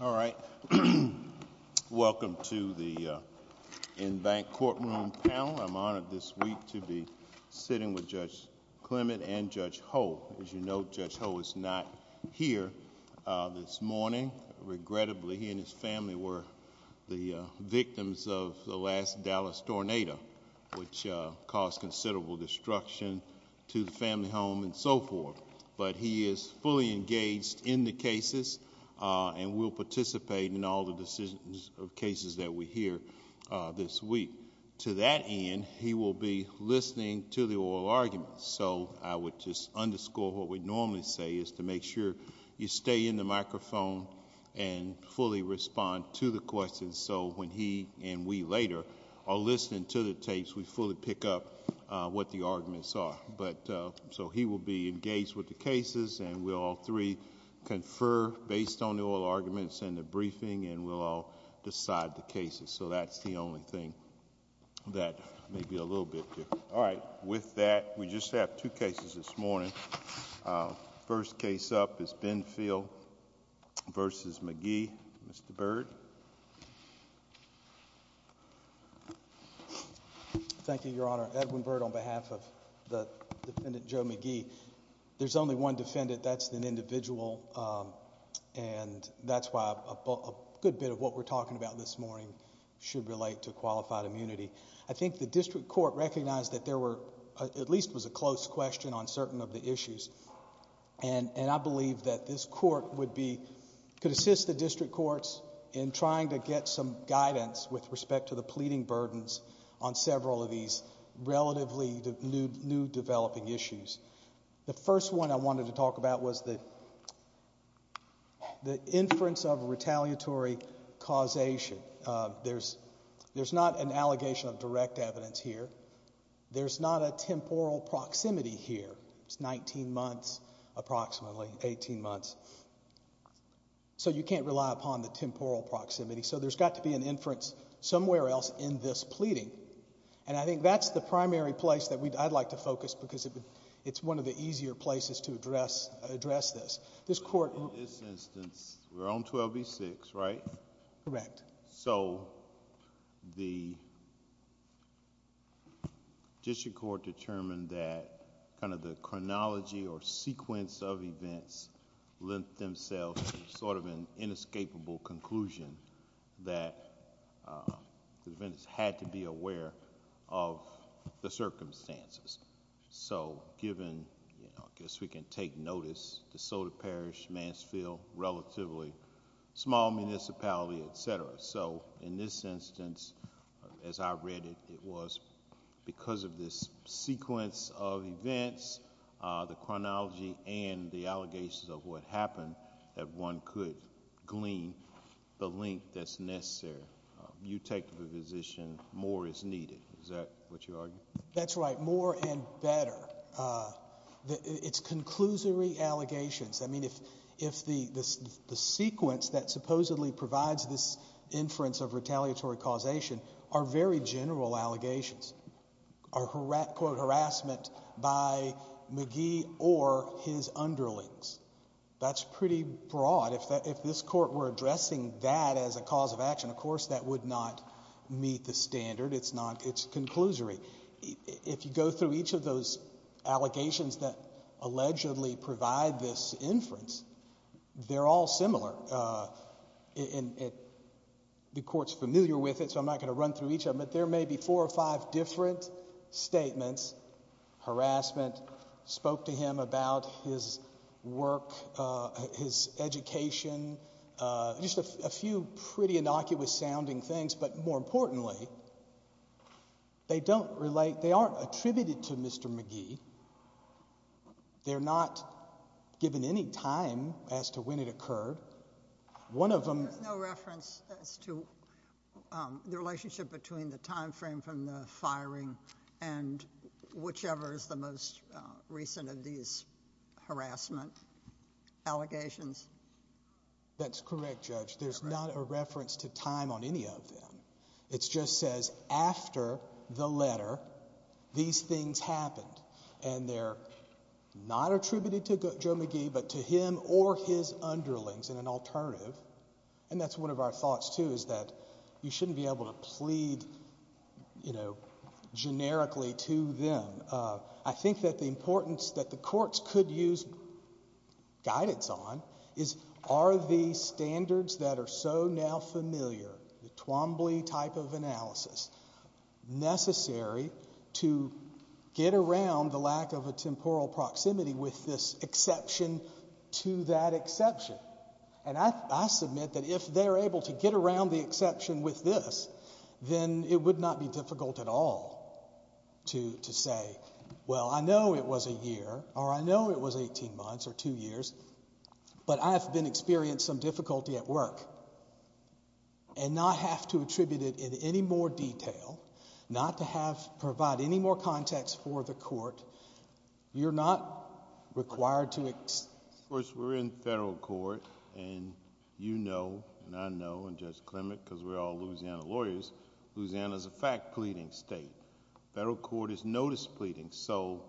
All right. Welcome to the in-bank courtroom panel. I'm honored this week to be sitting with Judge Clement and Judge Ho. As you know, Judge Ho is not here this morning. Regrettably, he and his family were the victims of the last Dallas tornado, which caused considerable destruction to the family home and so forth. But he is fully engaged in the cases and will participate in all the decisions of cases that we hear this week. To that end, he will be listening to the oral arguments. So I would just underscore what we normally say is to make sure you stay in the microphone and fully respond to the questions so when he and we later are listening to the tapes, we fully pick up what the arguments are. So he will be engaged with the cases and we'll all three confer based on the oral arguments and the briefing and we'll all decide the cases. So that's the only thing that may be a little bit different. All right. With that, we just have two cases this morning. First case up is Benfield v. Magee. Mr. Byrd. Thank you, Your Honor. Edwin Byrd on behalf of the defendant, Joe Magee. There's only one defendant. That's an individual. And that's why a good bit of what we're talking about this morning should relate to qualified immunity. I think the district court recognized that there were at least was a close question on certain of the issues. And I believe that this court would be could assist the district courts in trying to get some guidance with respect to the pleading burdens on several of these relatively new developing issues. The first one I wanted to talk about was the inference of retaliatory causation. There's not an allegation of direct evidence here. There's not a temporal proximity here. It's 18 months, approximately, 18 months. So you can't rely upon the temporal proximity. So there's got to be an inference somewhere else in this pleading. And I think that's the primary place that I'd like to focus because it's one of the easier places to address this. This court... In this instance, we're on 12 v. 6, right? Correct. So the district court determined that kind of chronology or sequence of events lent themselves to sort of an inescapable conclusion that the defendants had to be aware of the circumstances. So given, I guess we can take notice, DeSoto Parish, Mansfield, relatively small municipality, et cetera. So in this chronology and the allegations of what happened, that one could glean the length that's necessary. You take the position more is needed. Is that what you argue? That's right. More and better. It's conclusory allegations. I mean, if the sequence that supposedly provides this inference of retaliatory causation are very general allegations, are harassment by McGee or his underlings, that's pretty broad. If this court were addressing that as a cause of action, of course that would not meet the standard. It's conclusory. If you go through each of those allegations that allegedly provide this inference, they're all similar. And the court's familiar with it, so I'm not going to run through each of them, but there may be four or five different statements. Harassment, spoke to him about his work, his education, just a few pretty innocuous sounding things. But more importantly, they don't relate, they aren't attributed to Mr. McGee. They're not given any time as to when it occurred. One of them... The time frame from the firing and whichever is the most recent of these harassment allegations. That's correct, Judge. There's not a reference to time on any of them. It just says after the letter, these things happened. And they're not attributed to Joe McGee, but to him or his underlings in an alternative. And that's one of our thoughts too, is that you shouldn't be able to plead generically to them. I think that the importance that the courts could use guidance on is, are the standards that are so now familiar, the Twombly type of analysis, necessary to get around the lack of a temporal proximity with this exception to that exception? And I submit that if they're able to get around the exception with this, then it would not be difficult at all to say, well, I know it was a year, or I know it was 18 months or two years, but I've been experiencing some difficulty at work. And not have to attribute it in any more detail, not to have provide any more context for the and you know, and I know, and Judge Clement, because we're all Louisiana lawyers, Louisiana is a fact pleading state. Federal court is notice pleading. So,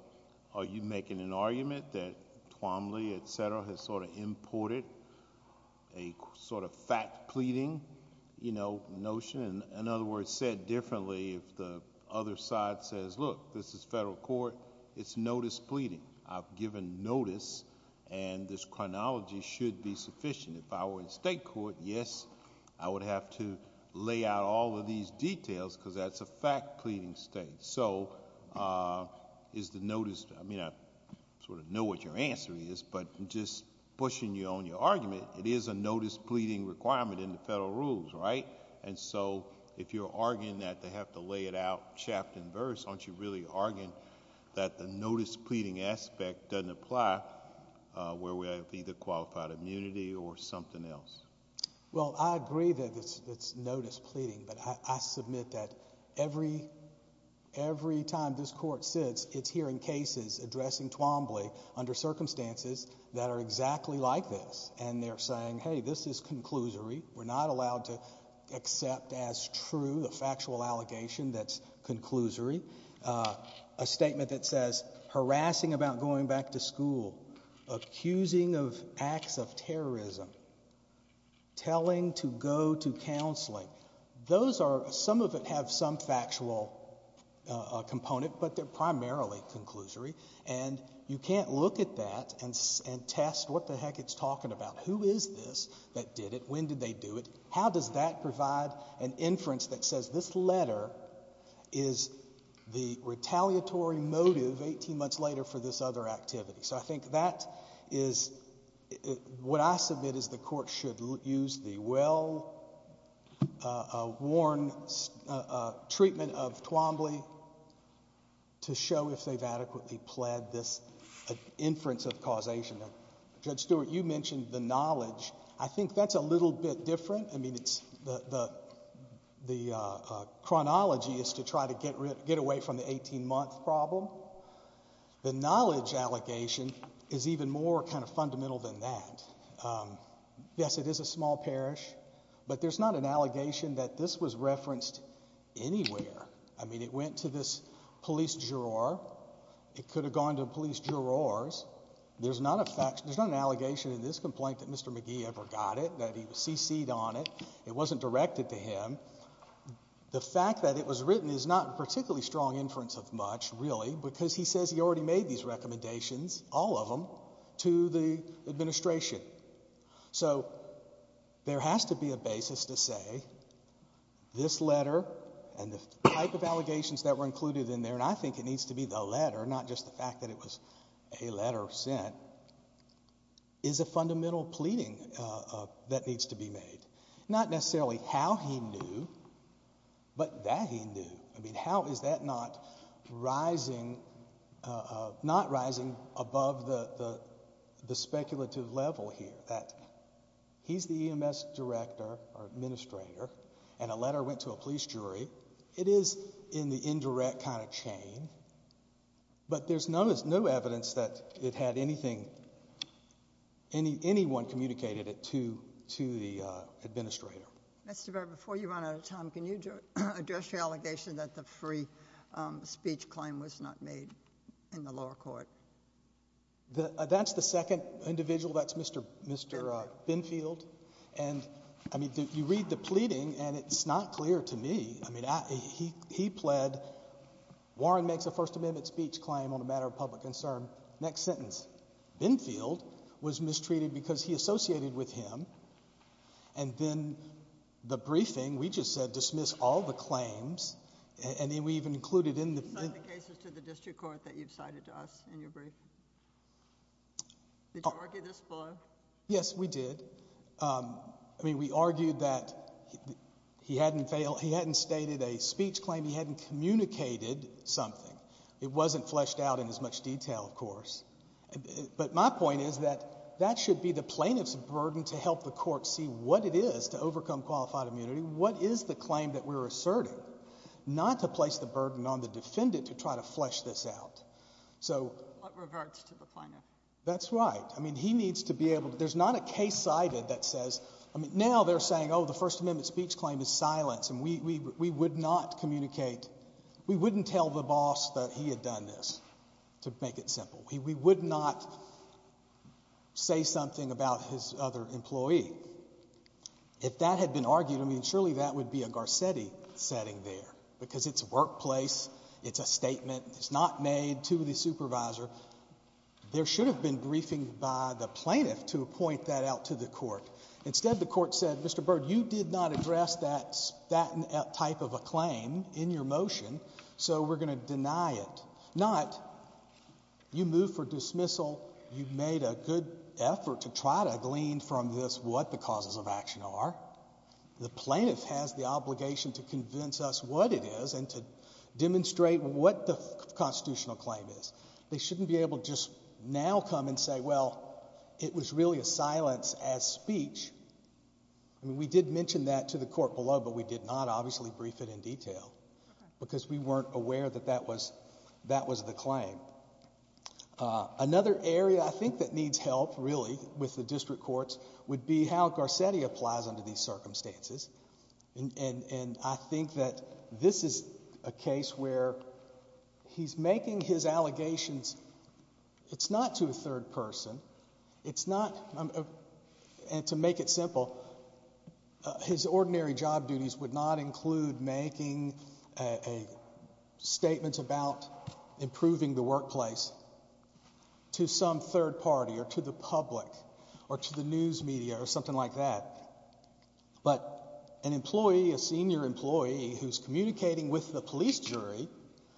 are you making an argument that Twombly, et cetera, has sort of imported a sort of fact pleading notion? In other words, said differently if the other side says, look, this is federal court, it's notice pleading. I've given notice and this chronology should be sufficient. If I were in state court, yes, I would have to lay out all of these details because that's a fact pleading state. So, is the notice, I mean, I sort of know what your answer is, but just pushing you on your argument, it is a notice pleading requirement in the federal rules, right? And so, if you're chapped in verse, aren't you really arguing that the notice pleading aspect doesn't apply where we have either qualified immunity or something else? Well, I agree that it's notice pleading, but I submit that every time this court sits, it's hearing cases addressing Twombly under circumstances that are exactly like this. And they're saying, hey, this is conclusory. We're not allowed to accept as true the factual allegation that's conclusory. A statement that says harassing about going back to school, accusing of acts of terrorism, telling to go to counseling. Those are, some of it have some factual component, but they're primarily conclusory. And you can't look at that and test what the heck it's talking about. Who is this that did it? When did they do it? How does that provide an inference that says this letter is the retaliatory motive 18 months later for this other activity? So I think that is, what I submit is the court should use the well-worn treatment of Twombly to show if they've adequately pled this inference of causation. Judge Stewart, you mentioned the knowledge. I think that's a little bit different. I mean, the chronology is to try to get away from the 18-month problem. The knowledge allegation is even more kind of fundamental than that. Yes, it is a small parish, but there's not an allegation that this was referenced anywhere. I mean, it went to this police juror. It could have gone to police jurors. There's not an allegation in this complaint that Mr. McGee ever got it, that he was cc'd on it. It wasn't directed to him. The fact that it was written is not a particularly strong inference of much, really, because he says he already made these recommendations, all of them, to the administration. So there has to be a basis to say this letter and the type of allegations that were sent is a fundamental pleading that needs to be made. Not necessarily how he knew, but that he knew. I mean, how is that not rising above the speculative level here? He's the EMS director or administrator, and a letter went to a police jury. It is in the indirect kind of chain, but there's no evidence that it had anything, anyone communicated it to the administrator. Mr. Baird, before you run out of time, can you address your allegation that the free speech claim was not made in the lower court? That's the second individual. That's Mr. Binfield, and I mean, you read the pleading, and it's not clear to me. I mean, he pled, Warren makes a First Amendment speech claim on a matter of public concern. Next sentence. Binfield was mistreated because he associated with him, and then the briefing, we just said, dismiss all the claims, and then we even included in the... You cited the cases to the district court that you've cited to us in your briefing. Did you argue this before? Yes, we did. I mean, we argued that he hadn't failed, he hadn't stated a speech claim, he hadn't communicated something. It wasn't fleshed out in as much detail, of course, but my point is that that should be the plaintiff's burden to help the court see what it is to overcome qualified immunity. What is the So... What reverts to the plaintiff. That's right. I mean, he needs to be able to... There's not a case cited that says... I mean, now they're saying, oh, the First Amendment speech claim is silence, and we would not communicate, we wouldn't tell the boss that he had done this, to make it simple. We would not say something about his other employee. If that had been argued, I mean, surely that would be a Garcetti setting there, because it's workplace, it's a statement, it's not made to the supervisor. There should have been briefing by the plaintiff to point that out to the court. Instead, the court said, Mr. Byrd, you did not address that type of a claim in your motion, so we're going to deny it. Not, you move for dismissal, you've made a good effort to try to glean from this what the causes of action are. The plaintiff has the obligation to convince us what it is, and to demonstrate what the constitutional claim is. They shouldn't be able to just now come and say, well, it was really a silence as speech. I mean, we did mention that to the court below, but we did not obviously brief it in detail, because we weren't aware that that was the claim. Another area, I think, that needs help, really, with the district courts would be how Garcetti applies under these circumstances, and I think that this is a case where he's making his allegations, it's not to a third person, it's not, and to make it simple, his ordinary job duties would not include making a statement about improving the workplace to some third party or to the public or to the news media or something like that, but an employee, a senior employee, who's communicating with the police jury,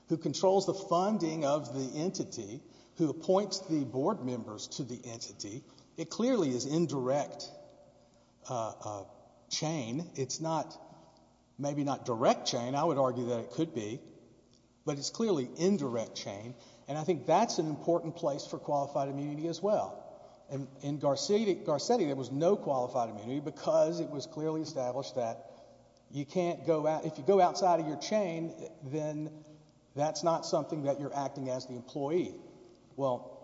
who controls the funding of the entity, who appoints the board members to the entity, it clearly is indirect chain. It's not, maybe not direct chain, I would argue that it could be, but it's clearly indirect chain, and I think that's an important place for and in Garcetti there was no qualified immunity because it was clearly established that you can't go out, if you go outside of your chain, then that's not something that you're acting as the employee. Well,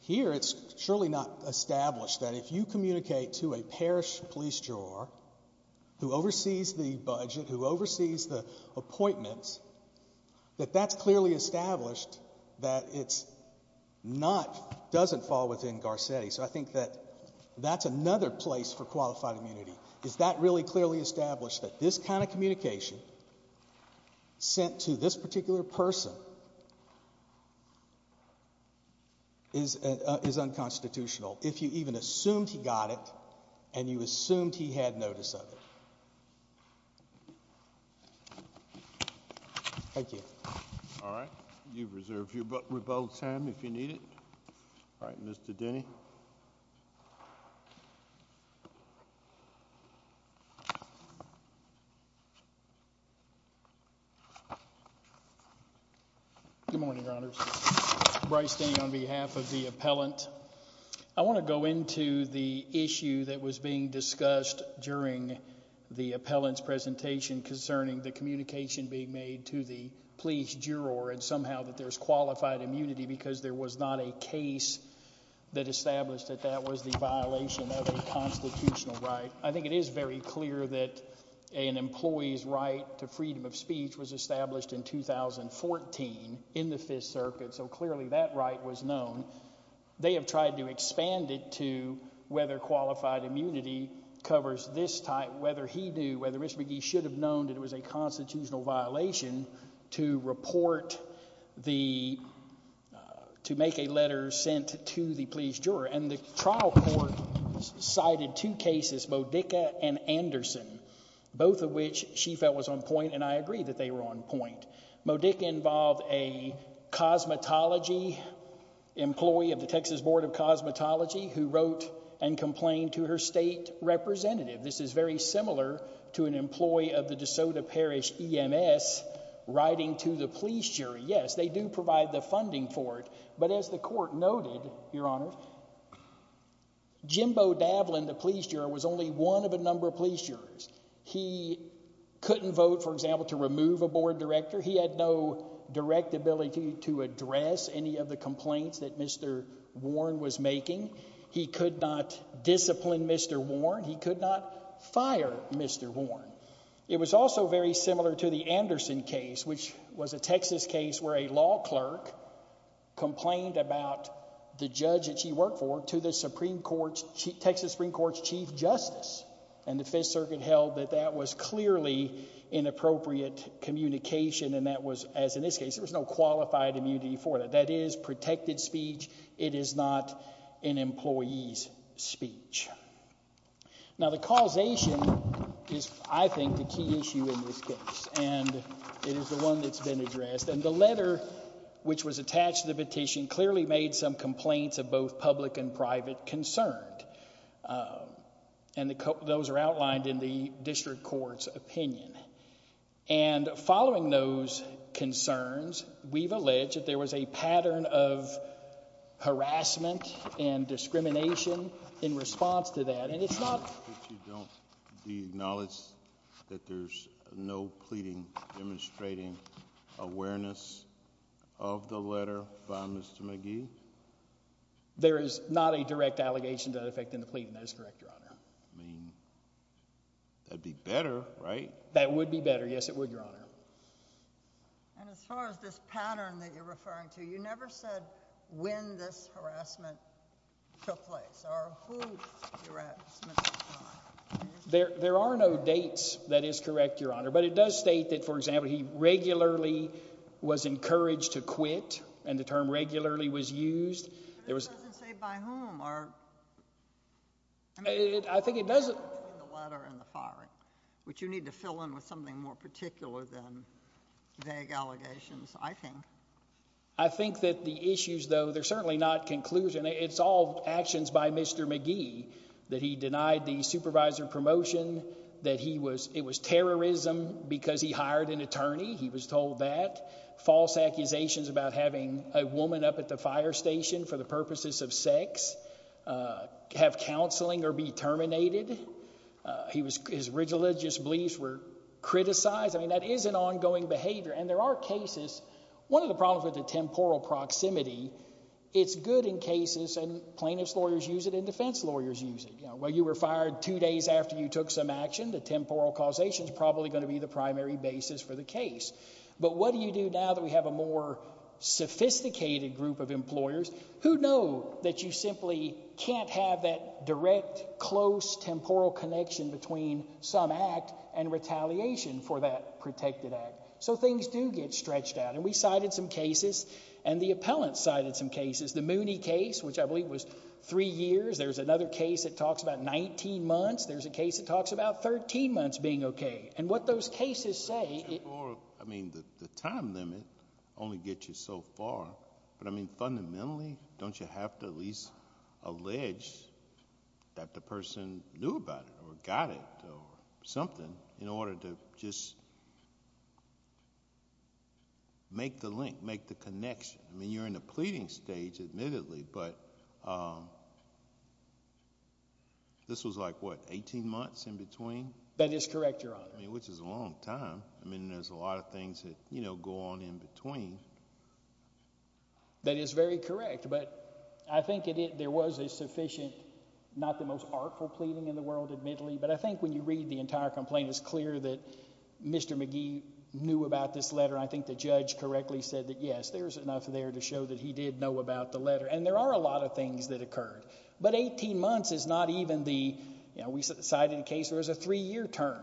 here it's surely not established that if you communicate to a parish police juror who oversees the budget, who oversees the appointments, that that's clearly established that it's not, doesn't fall within Garcetti, so I think that that's another place for qualified immunity, is that really clearly established that this kind of communication sent to this particular person is unconstitutional, if you even assumed he got it and you assumed he had notice of it. Thank you. All right, you've reserved your vote, Sam, if you need it. All right, Mr. Denny. Good morning, your honors. Bryce Denny on behalf of the appellant. I want to go into the issue that was being discussed during the appellant's presentation concerning the communication being made to the police juror and somehow that there's qualified immunity because there was not a case that established that that was the violation of a constitutional right. I think it is very clear that an employee's right to freedom of speech was established in 2014 in the Fifth Circuit, so clearly that right was known. They have tried to expand it to whether qualified immunity covers this type, whether he knew, whether Mr. McGee should have known that it was a constitutional violation to report the, to make a letter sent to the police juror, and the trial court cited two cases, Modica and Anderson, both of which she felt was on point and I agree that they were on point. Modica involved a cosmetology employee of the Texas Board of Cosmetology who wrote and complained to her state representative. This is very similar to an employee of the DeSoto Parish EMS writing to the police jury. Yes, they do provide the funding for it, but as the court noted, your honor, Jimbo Davlin, the police juror, was only one of a number of police jurors. He couldn't vote, for example, to remove a board director. He had no direct ability to address any of the complaints that Mr. Warren was making. He could not discipline Mr. Warren. He could not fire Mr. Warren. It was also very similar to the Anderson case, which was a Texas case where a law clerk complained about the judge that she worked for to the Supreme Court, Texas Supreme Court's Chief Justice, and the Fifth Circuit held that that was clearly inappropriate communication and that was, as in this case, there was no qualified immunity for that. That is protected speech. It is not an employee's speech. Now, the causation is, I think, the key issue in this case, and it is the one that's been addressed, and the letter which was attached to the petition clearly made some complaints of both public and private concerned, and those are outlined in the district court's opinion, and following those concerns, we've alleged that there was a pattern of harassment and discrimination in response to that, and it's not... Do you acknowledge that there's no pleading demonstrating awareness of the letter by Mr. McGee? There is not a direct allegation to that effect in the pleading. That is correct, Your Honor. I mean, that'd be better, right? That would be better. Yes, it would, Your Honor. And as far as this pattern that you're referring to, you never said when this harassment took place or who the harassment was on. There are no dates, that is correct, Your Honor, but it does state that, for example, he regularly was encouraged to quit, and the term regularly was used. But it doesn't say by whom or... I think it doesn't... Between the letter and the firing, which you need to fill in with something more particular than vague allegations, I think. I think that the issues, though, they're certainly not conclusion. It's all actions by Mr. McGee, that he denied the supervisor promotion, that he was... It was terrorism because he hired an attorney. He was told that. False accusations about having a woman up at the fire station for the purposes of sex, to have counseling or be terminated. His religious beliefs were criticized. I mean, that is an ongoing behavior, and there are cases... One of the problems with the temporal proximity, it's good in cases, and plaintiff's lawyers use it and defense lawyers use it. Well, you were fired two days after you took some action. The temporal causation is probably going to be the primary basis for the case. But what do you do now that we have a more can't have that direct, close temporal connection between some act and retaliation for that protected act? So things do get stretched out. And we cited some cases, and the appellant cited some cases. The Mooney case, which I believe was three years. There's another case that talks about 19 months. There's a case that talks about 13 months being okay. And what those cases say... I mean, the time limit only gets you so far. But I mean, fundamentally, don't you have to at least allege that the person knew about it, or got it, or something, in order to just make the link, make the connection? I mean, you're in the pleading stage, admittedly, but this was like, what, 18 months in between? That is correct, Your Honor. Which is a long time. I mean, there's a lot of things that go on in between. That is very correct. But I think there was a sufficient, not the most artful pleading in the world, admittedly. But I think when you read the entire complaint, it's clear that Mr. McGee knew about this letter. I think the judge correctly said that, yes, there's enough there to show that he did know about the letter. And there are a lot of things that occurred. But 18 months is not even the... We cited a case where it was a three-year term.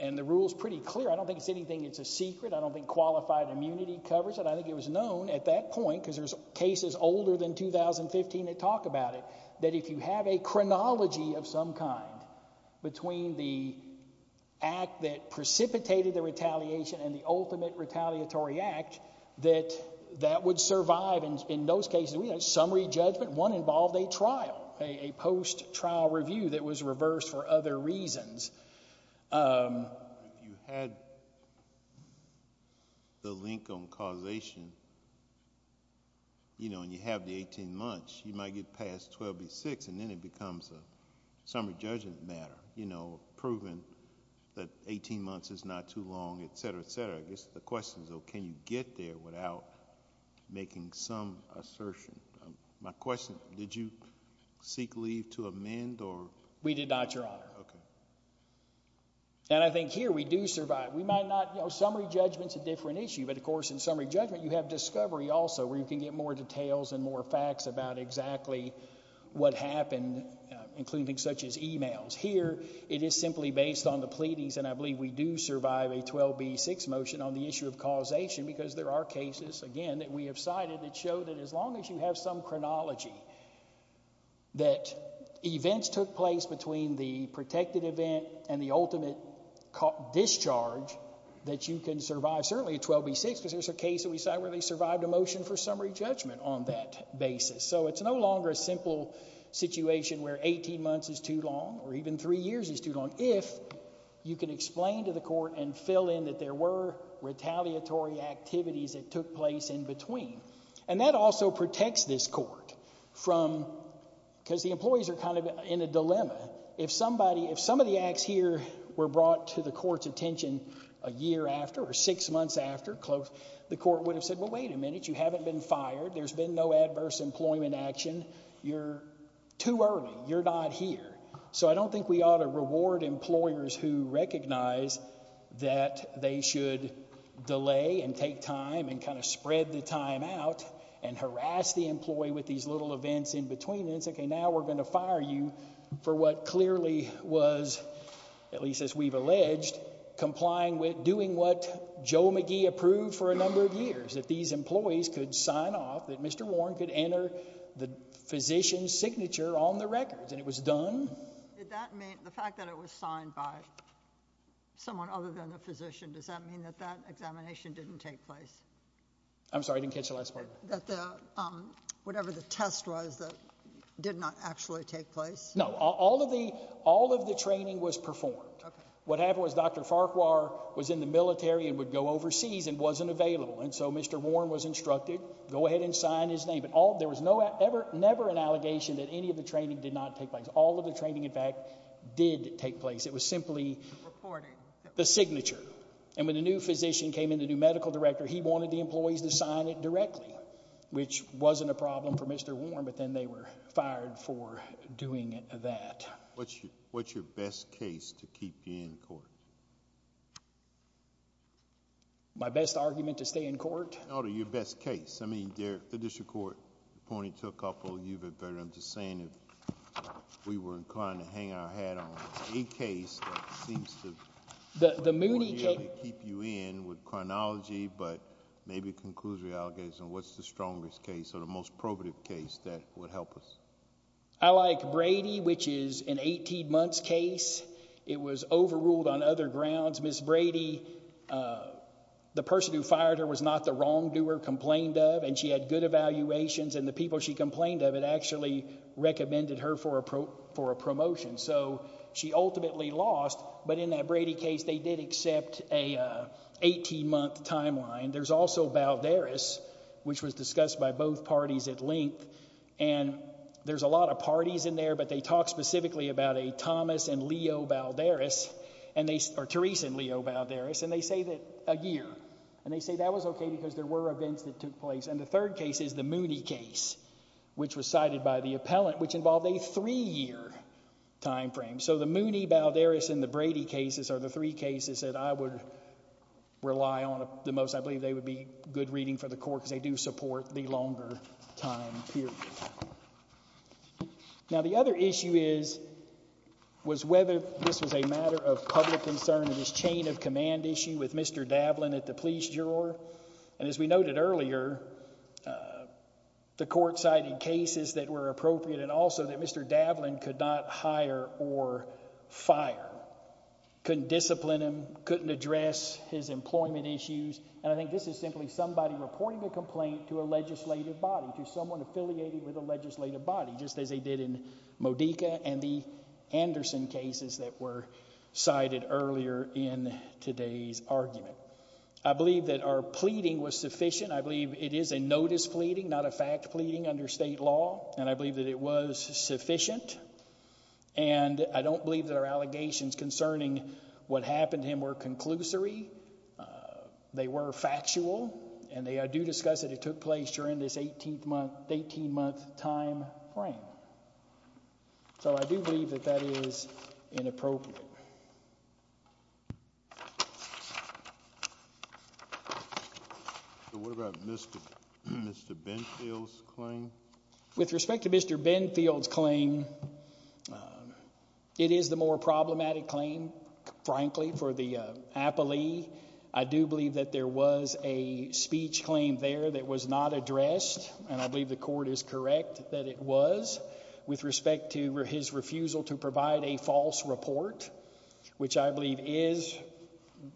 And the rule's pretty clear. I don't think it's anything that's a secret. I don't think it's a secret. I think it was known at that point, because there's cases older than 2015 that talk about it, that if you have a chronology of some kind between the act that precipitated the retaliation and the ultimate retaliatory act, that that would survive. And in those cases, we had summary judgment. One involved a trial, a post-trial review that was reversed for other reasons. But if you had the link on causation, and you have the 18 months, you might get past 12B6, and then it becomes a summary judgment matter, proving that 18 months is not too long, et cetera, et cetera. I guess the question is, though, can you get there without making some assertion? My question, did you seek leave to amend or... We did not, Your Honor. And I think here, we do survive. We might not... Summary judgment's a different issue, but of course, in summary judgment, you have discovery also, where you can get more details and more facts about exactly what happened, including things such as emails. Here, it is simply based on the pleadings, and I believe we do survive a 12B6 motion on the issue of causation, because there are cases, again, that we have cited that show that as long as you have some chronology, that events took place between the protected event and the ultimate discharge, that you can survive certainly a 12B6, because there's a case that we cite where they survived a motion for summary judgment on that basis. So it's no longer a simple situation where 18 months is too long, or even three years is too long, if you can explain to the court and fill in that there were retaliatory activities that took place in between. And that also protects this court from... Because the employees are kind of in a dilemma. If somebody... If some of the acts here were brought to the court's attention a year after, or six months after, the court would have said, well, wait a minute. You haven't been fired. There's been no adverse employment action. You're too early. You're not here. So I don't think we ought to reward employers who recognize that they should delay and take time and kind of spread the time out and harass the employee with these little events in between and say, okay, now we're going to fire you for what clearly was, at least as we've alleged, complying with doing what Joe McGee approved for a number of years, that these employees could sign off, that Mr. Warren could enter the physician's signature on the records. And it was done. Did that mean... The fact that it was signed by someone other than the physician, does that mean that that examination didn't take place? I'm sorry, I didn't catch the last part. That the... Whatever the test was that did not actually take place? No. All of the training was performed. What happened was Dr. Farquhar was in the military and would go overseas and wasn't available. And so Mr. Warren was in the military. All of the training, in fact, did take place. It was simply the signature. And when the new physician came in, the new medical director, he wanted the employees to sign it directly, which wasn't a problem for Mr. Warren, but then they were fired for doing that. What's your best case to keep you in court? My best argument to stay in court? No, your best case. I mean, we were inclined to hang our hat on a case that seems to keep you in with chronology, but maybe it concludes reallocation. What's the strongest case or the most probative case that would help us? I like Brady, which is an 18 months case. It was overruled on other grounds. Ms. Brady, the person who fired her was not the wrongdoer complained of, and she had good for a promotion. So she ultimately lost. But in that Brady case, they did accept a 18 month timeline. There's also Balderas, which was discussed by both parties at length. And there's a lot of parties in there, but they talk specifically about a Thomas and Leo Balderas and they are Teresa and Leo Balderas. And they say that a year and they say that was okay because there were events that took place. And the third case is the Mooney case, which was cited by the three year timeframe. So the Mooney, Balderas, and the Brady cases are the three cases that I would rely on the most. I believe they would be good reading for the court because they do support the longer time period. Now, the other issue is, was whether this was a matter of public concern in this chain of command issue with Mr. Dablin at the police juror. And as we noted earlier, uh, the court cited cases that were appropriate and also that Mr. Dablin could not hire or fire, couldn't discipline him, couldn't address his employment issues. And I think this is simply somebody reporting a complaint to a legislative body, to someone affiliated with a legislative body, just as they did in Modica and the Anderson cases that were cited earlier in today's argument. I believe that our pleading was sufficient. I believe it is a notice pleading, not a fact pleading under state law. And I believe that it was sufficient. And I don't believe that our allegations concerning what happened to him were conclusory. They were factual and they do discuss that it took place during this 18 month, 18 month time frame. So I do believe that that is inappropriate. So what about Mr. Benfield's claim? With respect to Mr. Benfield's claim, it is the more problematic claim, frankly, for the, uh, appellee. I do believe that there was a speech claim there that was not addressed. And I believe the court is correct that it was with respect to his refusal to provide a false report, which I believe is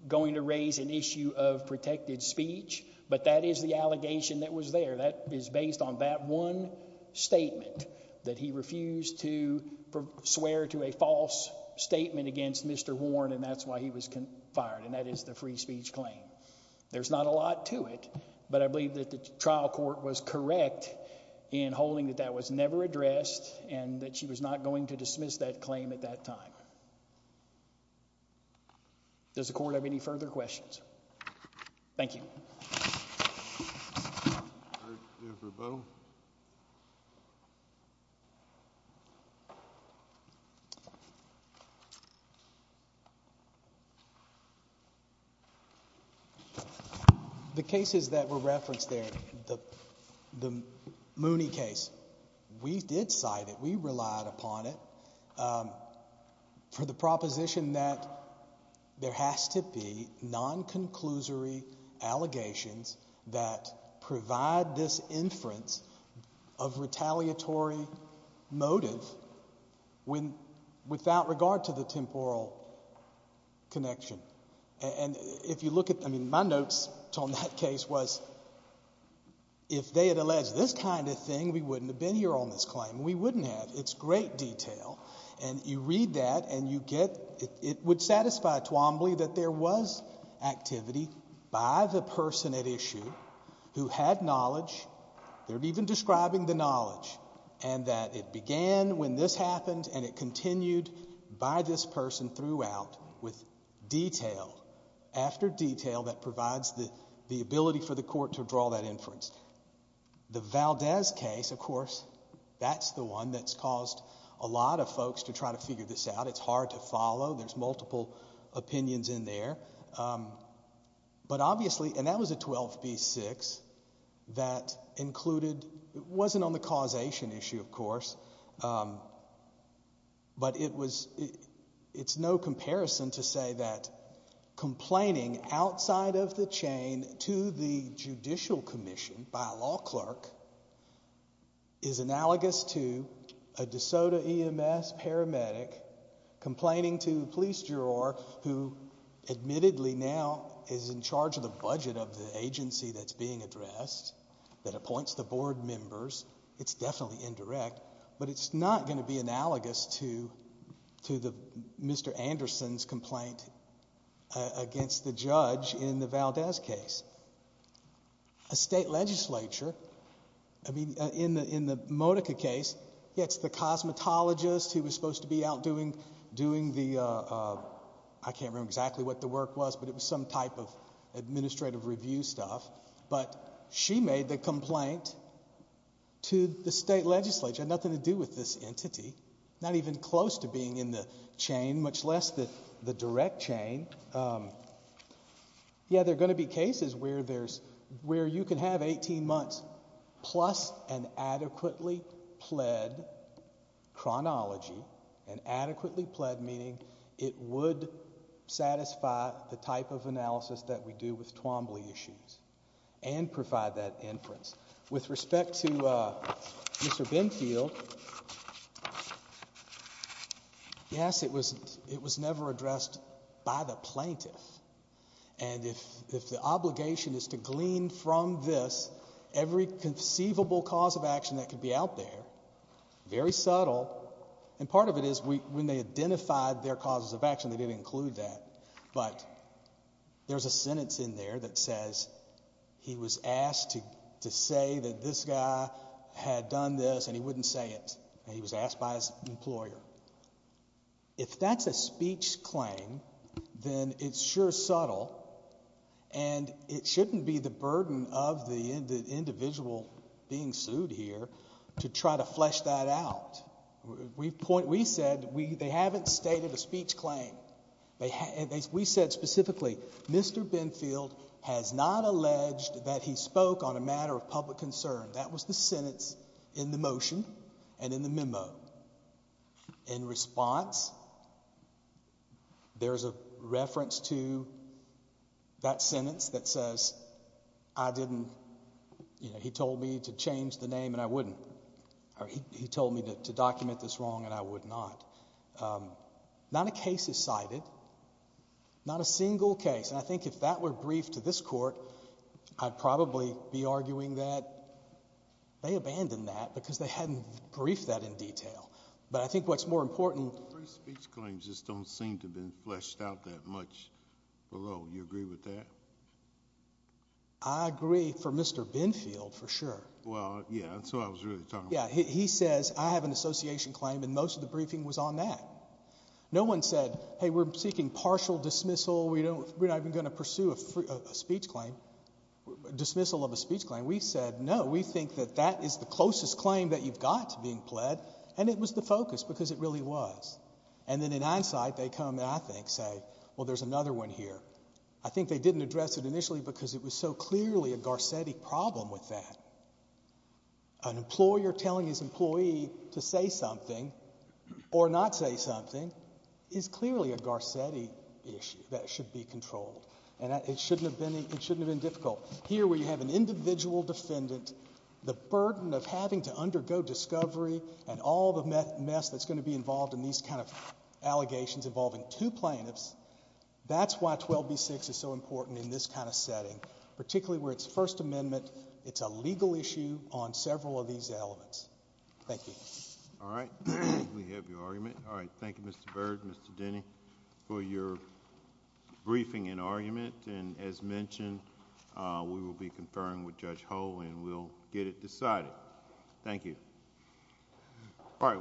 going to raise an issue of protected speech. But that is the allegation that was there. That is based on that one statement that he refused to swear to a false statement against Mr. Warren. And that's why he was fired. And that is the free speech claim. There's not a lot to it, but I believe that the trial court was correct in holding that that was never addressed and that she was not going to dismiss that claim at that time. Does the court have any further questions? Thank you. The cases that were referenced there, the, the Mooney case, we did cite it. We relied upon it, um, for the proposition that there has to be non-conclusory allegations that provide this inference of retaliatory motive when, without regard to the temporal connection, and if you look at, I mean, my notes on that case was if they had alleged this kind of thing, we wouldn't have been here on this claim. We wouldn't have. It's great detail. And you read that and you get, it would satisfy Twombly that there was activity by the person at issue who had knowledge. They're even describing the knowledge and that it began when this happened and it detail after detail that provides the, the ability for the court to draw that inference. The Valdez case, of course, that's the one that's caused a lot of folks to try to figure this out. It's hard to follow. There's multiple opinions in there. Um, but obviously, and that was a 12B6 that included, it wasn't on the causation issue, of course. Um, but it was, it's no comparison to say that complaining outside of the chain to the judicial commission by a law clerk is analogous to a DeSoto EMS paramedic complaining to the police juror who admittedly now is in charge of the budget of the agency that's being addressed, that appoints the board members. It's definitely indirect, but it's not going to be analogous to, to the Mr. Anderson's complaint against the judge in the Valdez case. A state legislature, I mean, in the, in the Modica case, it's the cosmetologist who was supposed to be out doing, doing the, uh, uh, I can't remember exactly what the work was, but it was some type of administrative review stuff. But she made the state legislature, nothing to do with this entity, not even close to being in the chain, much less the, the direct chain. Um, yeah, there are going to be cases where there's, where you can have 18 months plus an adequately pled chronology and adequately pled, meaning it would satisfy the type of analysis that we do with Twombly issues and provide that inference. With respect to, uh, Mr. Benfield, yes, it was, it was never addressed by the plaintiff. And if, if the obligation is to glean from this every conceivable cause of action that could be out there, very subtle. And part of it is we, when they identified their causes of action, they didn't include that. But there's a sentence in there that says he was asked to, to say that this guy had done this and he wouldn't say it. And he was asked by his employer. If that's a speech claim, then it's sure subtle and it shouldn't be the burden of the individual being sued here to try to flesh that out. We point, we said we, they haven't stated a speech claim. They had, we said specifically, Mr. Benfield has not alleged that he spoke on a matter of public concern. That was the sentence in the motion and in the memo. In response, there's a reference to that sentence that says, I didn't, you know, he told me to change the name and I wouldn't, or he, he told me to document this wrong and I would not. Um, not a case is cited, not a single case. And I think if that were briefed to this court, I'd probably be arguing that they abandoned that because they hadn't briefed that in detail. But I think what's more important, free speech claims just don't seem to have been fleshed out that much below. You agree with that? I agree for Mr. Benfield, for sure. Well, yeah, that's what I was really talking about. He says, I have an association claim and most of the briefing was on that. No one said, hey, we're seeking partial dismissal. We don't, we're not even going to pursue a free speech claim, dismissal of a speech claim. We said, no, we think that that is the closest claim that you've got being pled. And it was the focus because it really was. And then in hindsight, they come, I think, say, well, there's another one here. I think they didn't address it initially because it was so clearly a Garcetti problem with that. An employer telling his employee to say something or not say something is clearly a Garcetti issue that should be controlled. And it shouldn't have been, it shouldn't have been difficult. Here where you have an individual defendant, the burden of having to undergo discovery and all the mess that's going to be involved in these kind of allegations involving two plaintiffs, that's why 12B6 is so important in this kind of setting, particularly where it's First Amendment. It's a legal issue on several of these elements. Thank you. All right. We have your argument. All right. Thank you, Mr. Byrd, Mr. Denny, for your attention and for all the questions.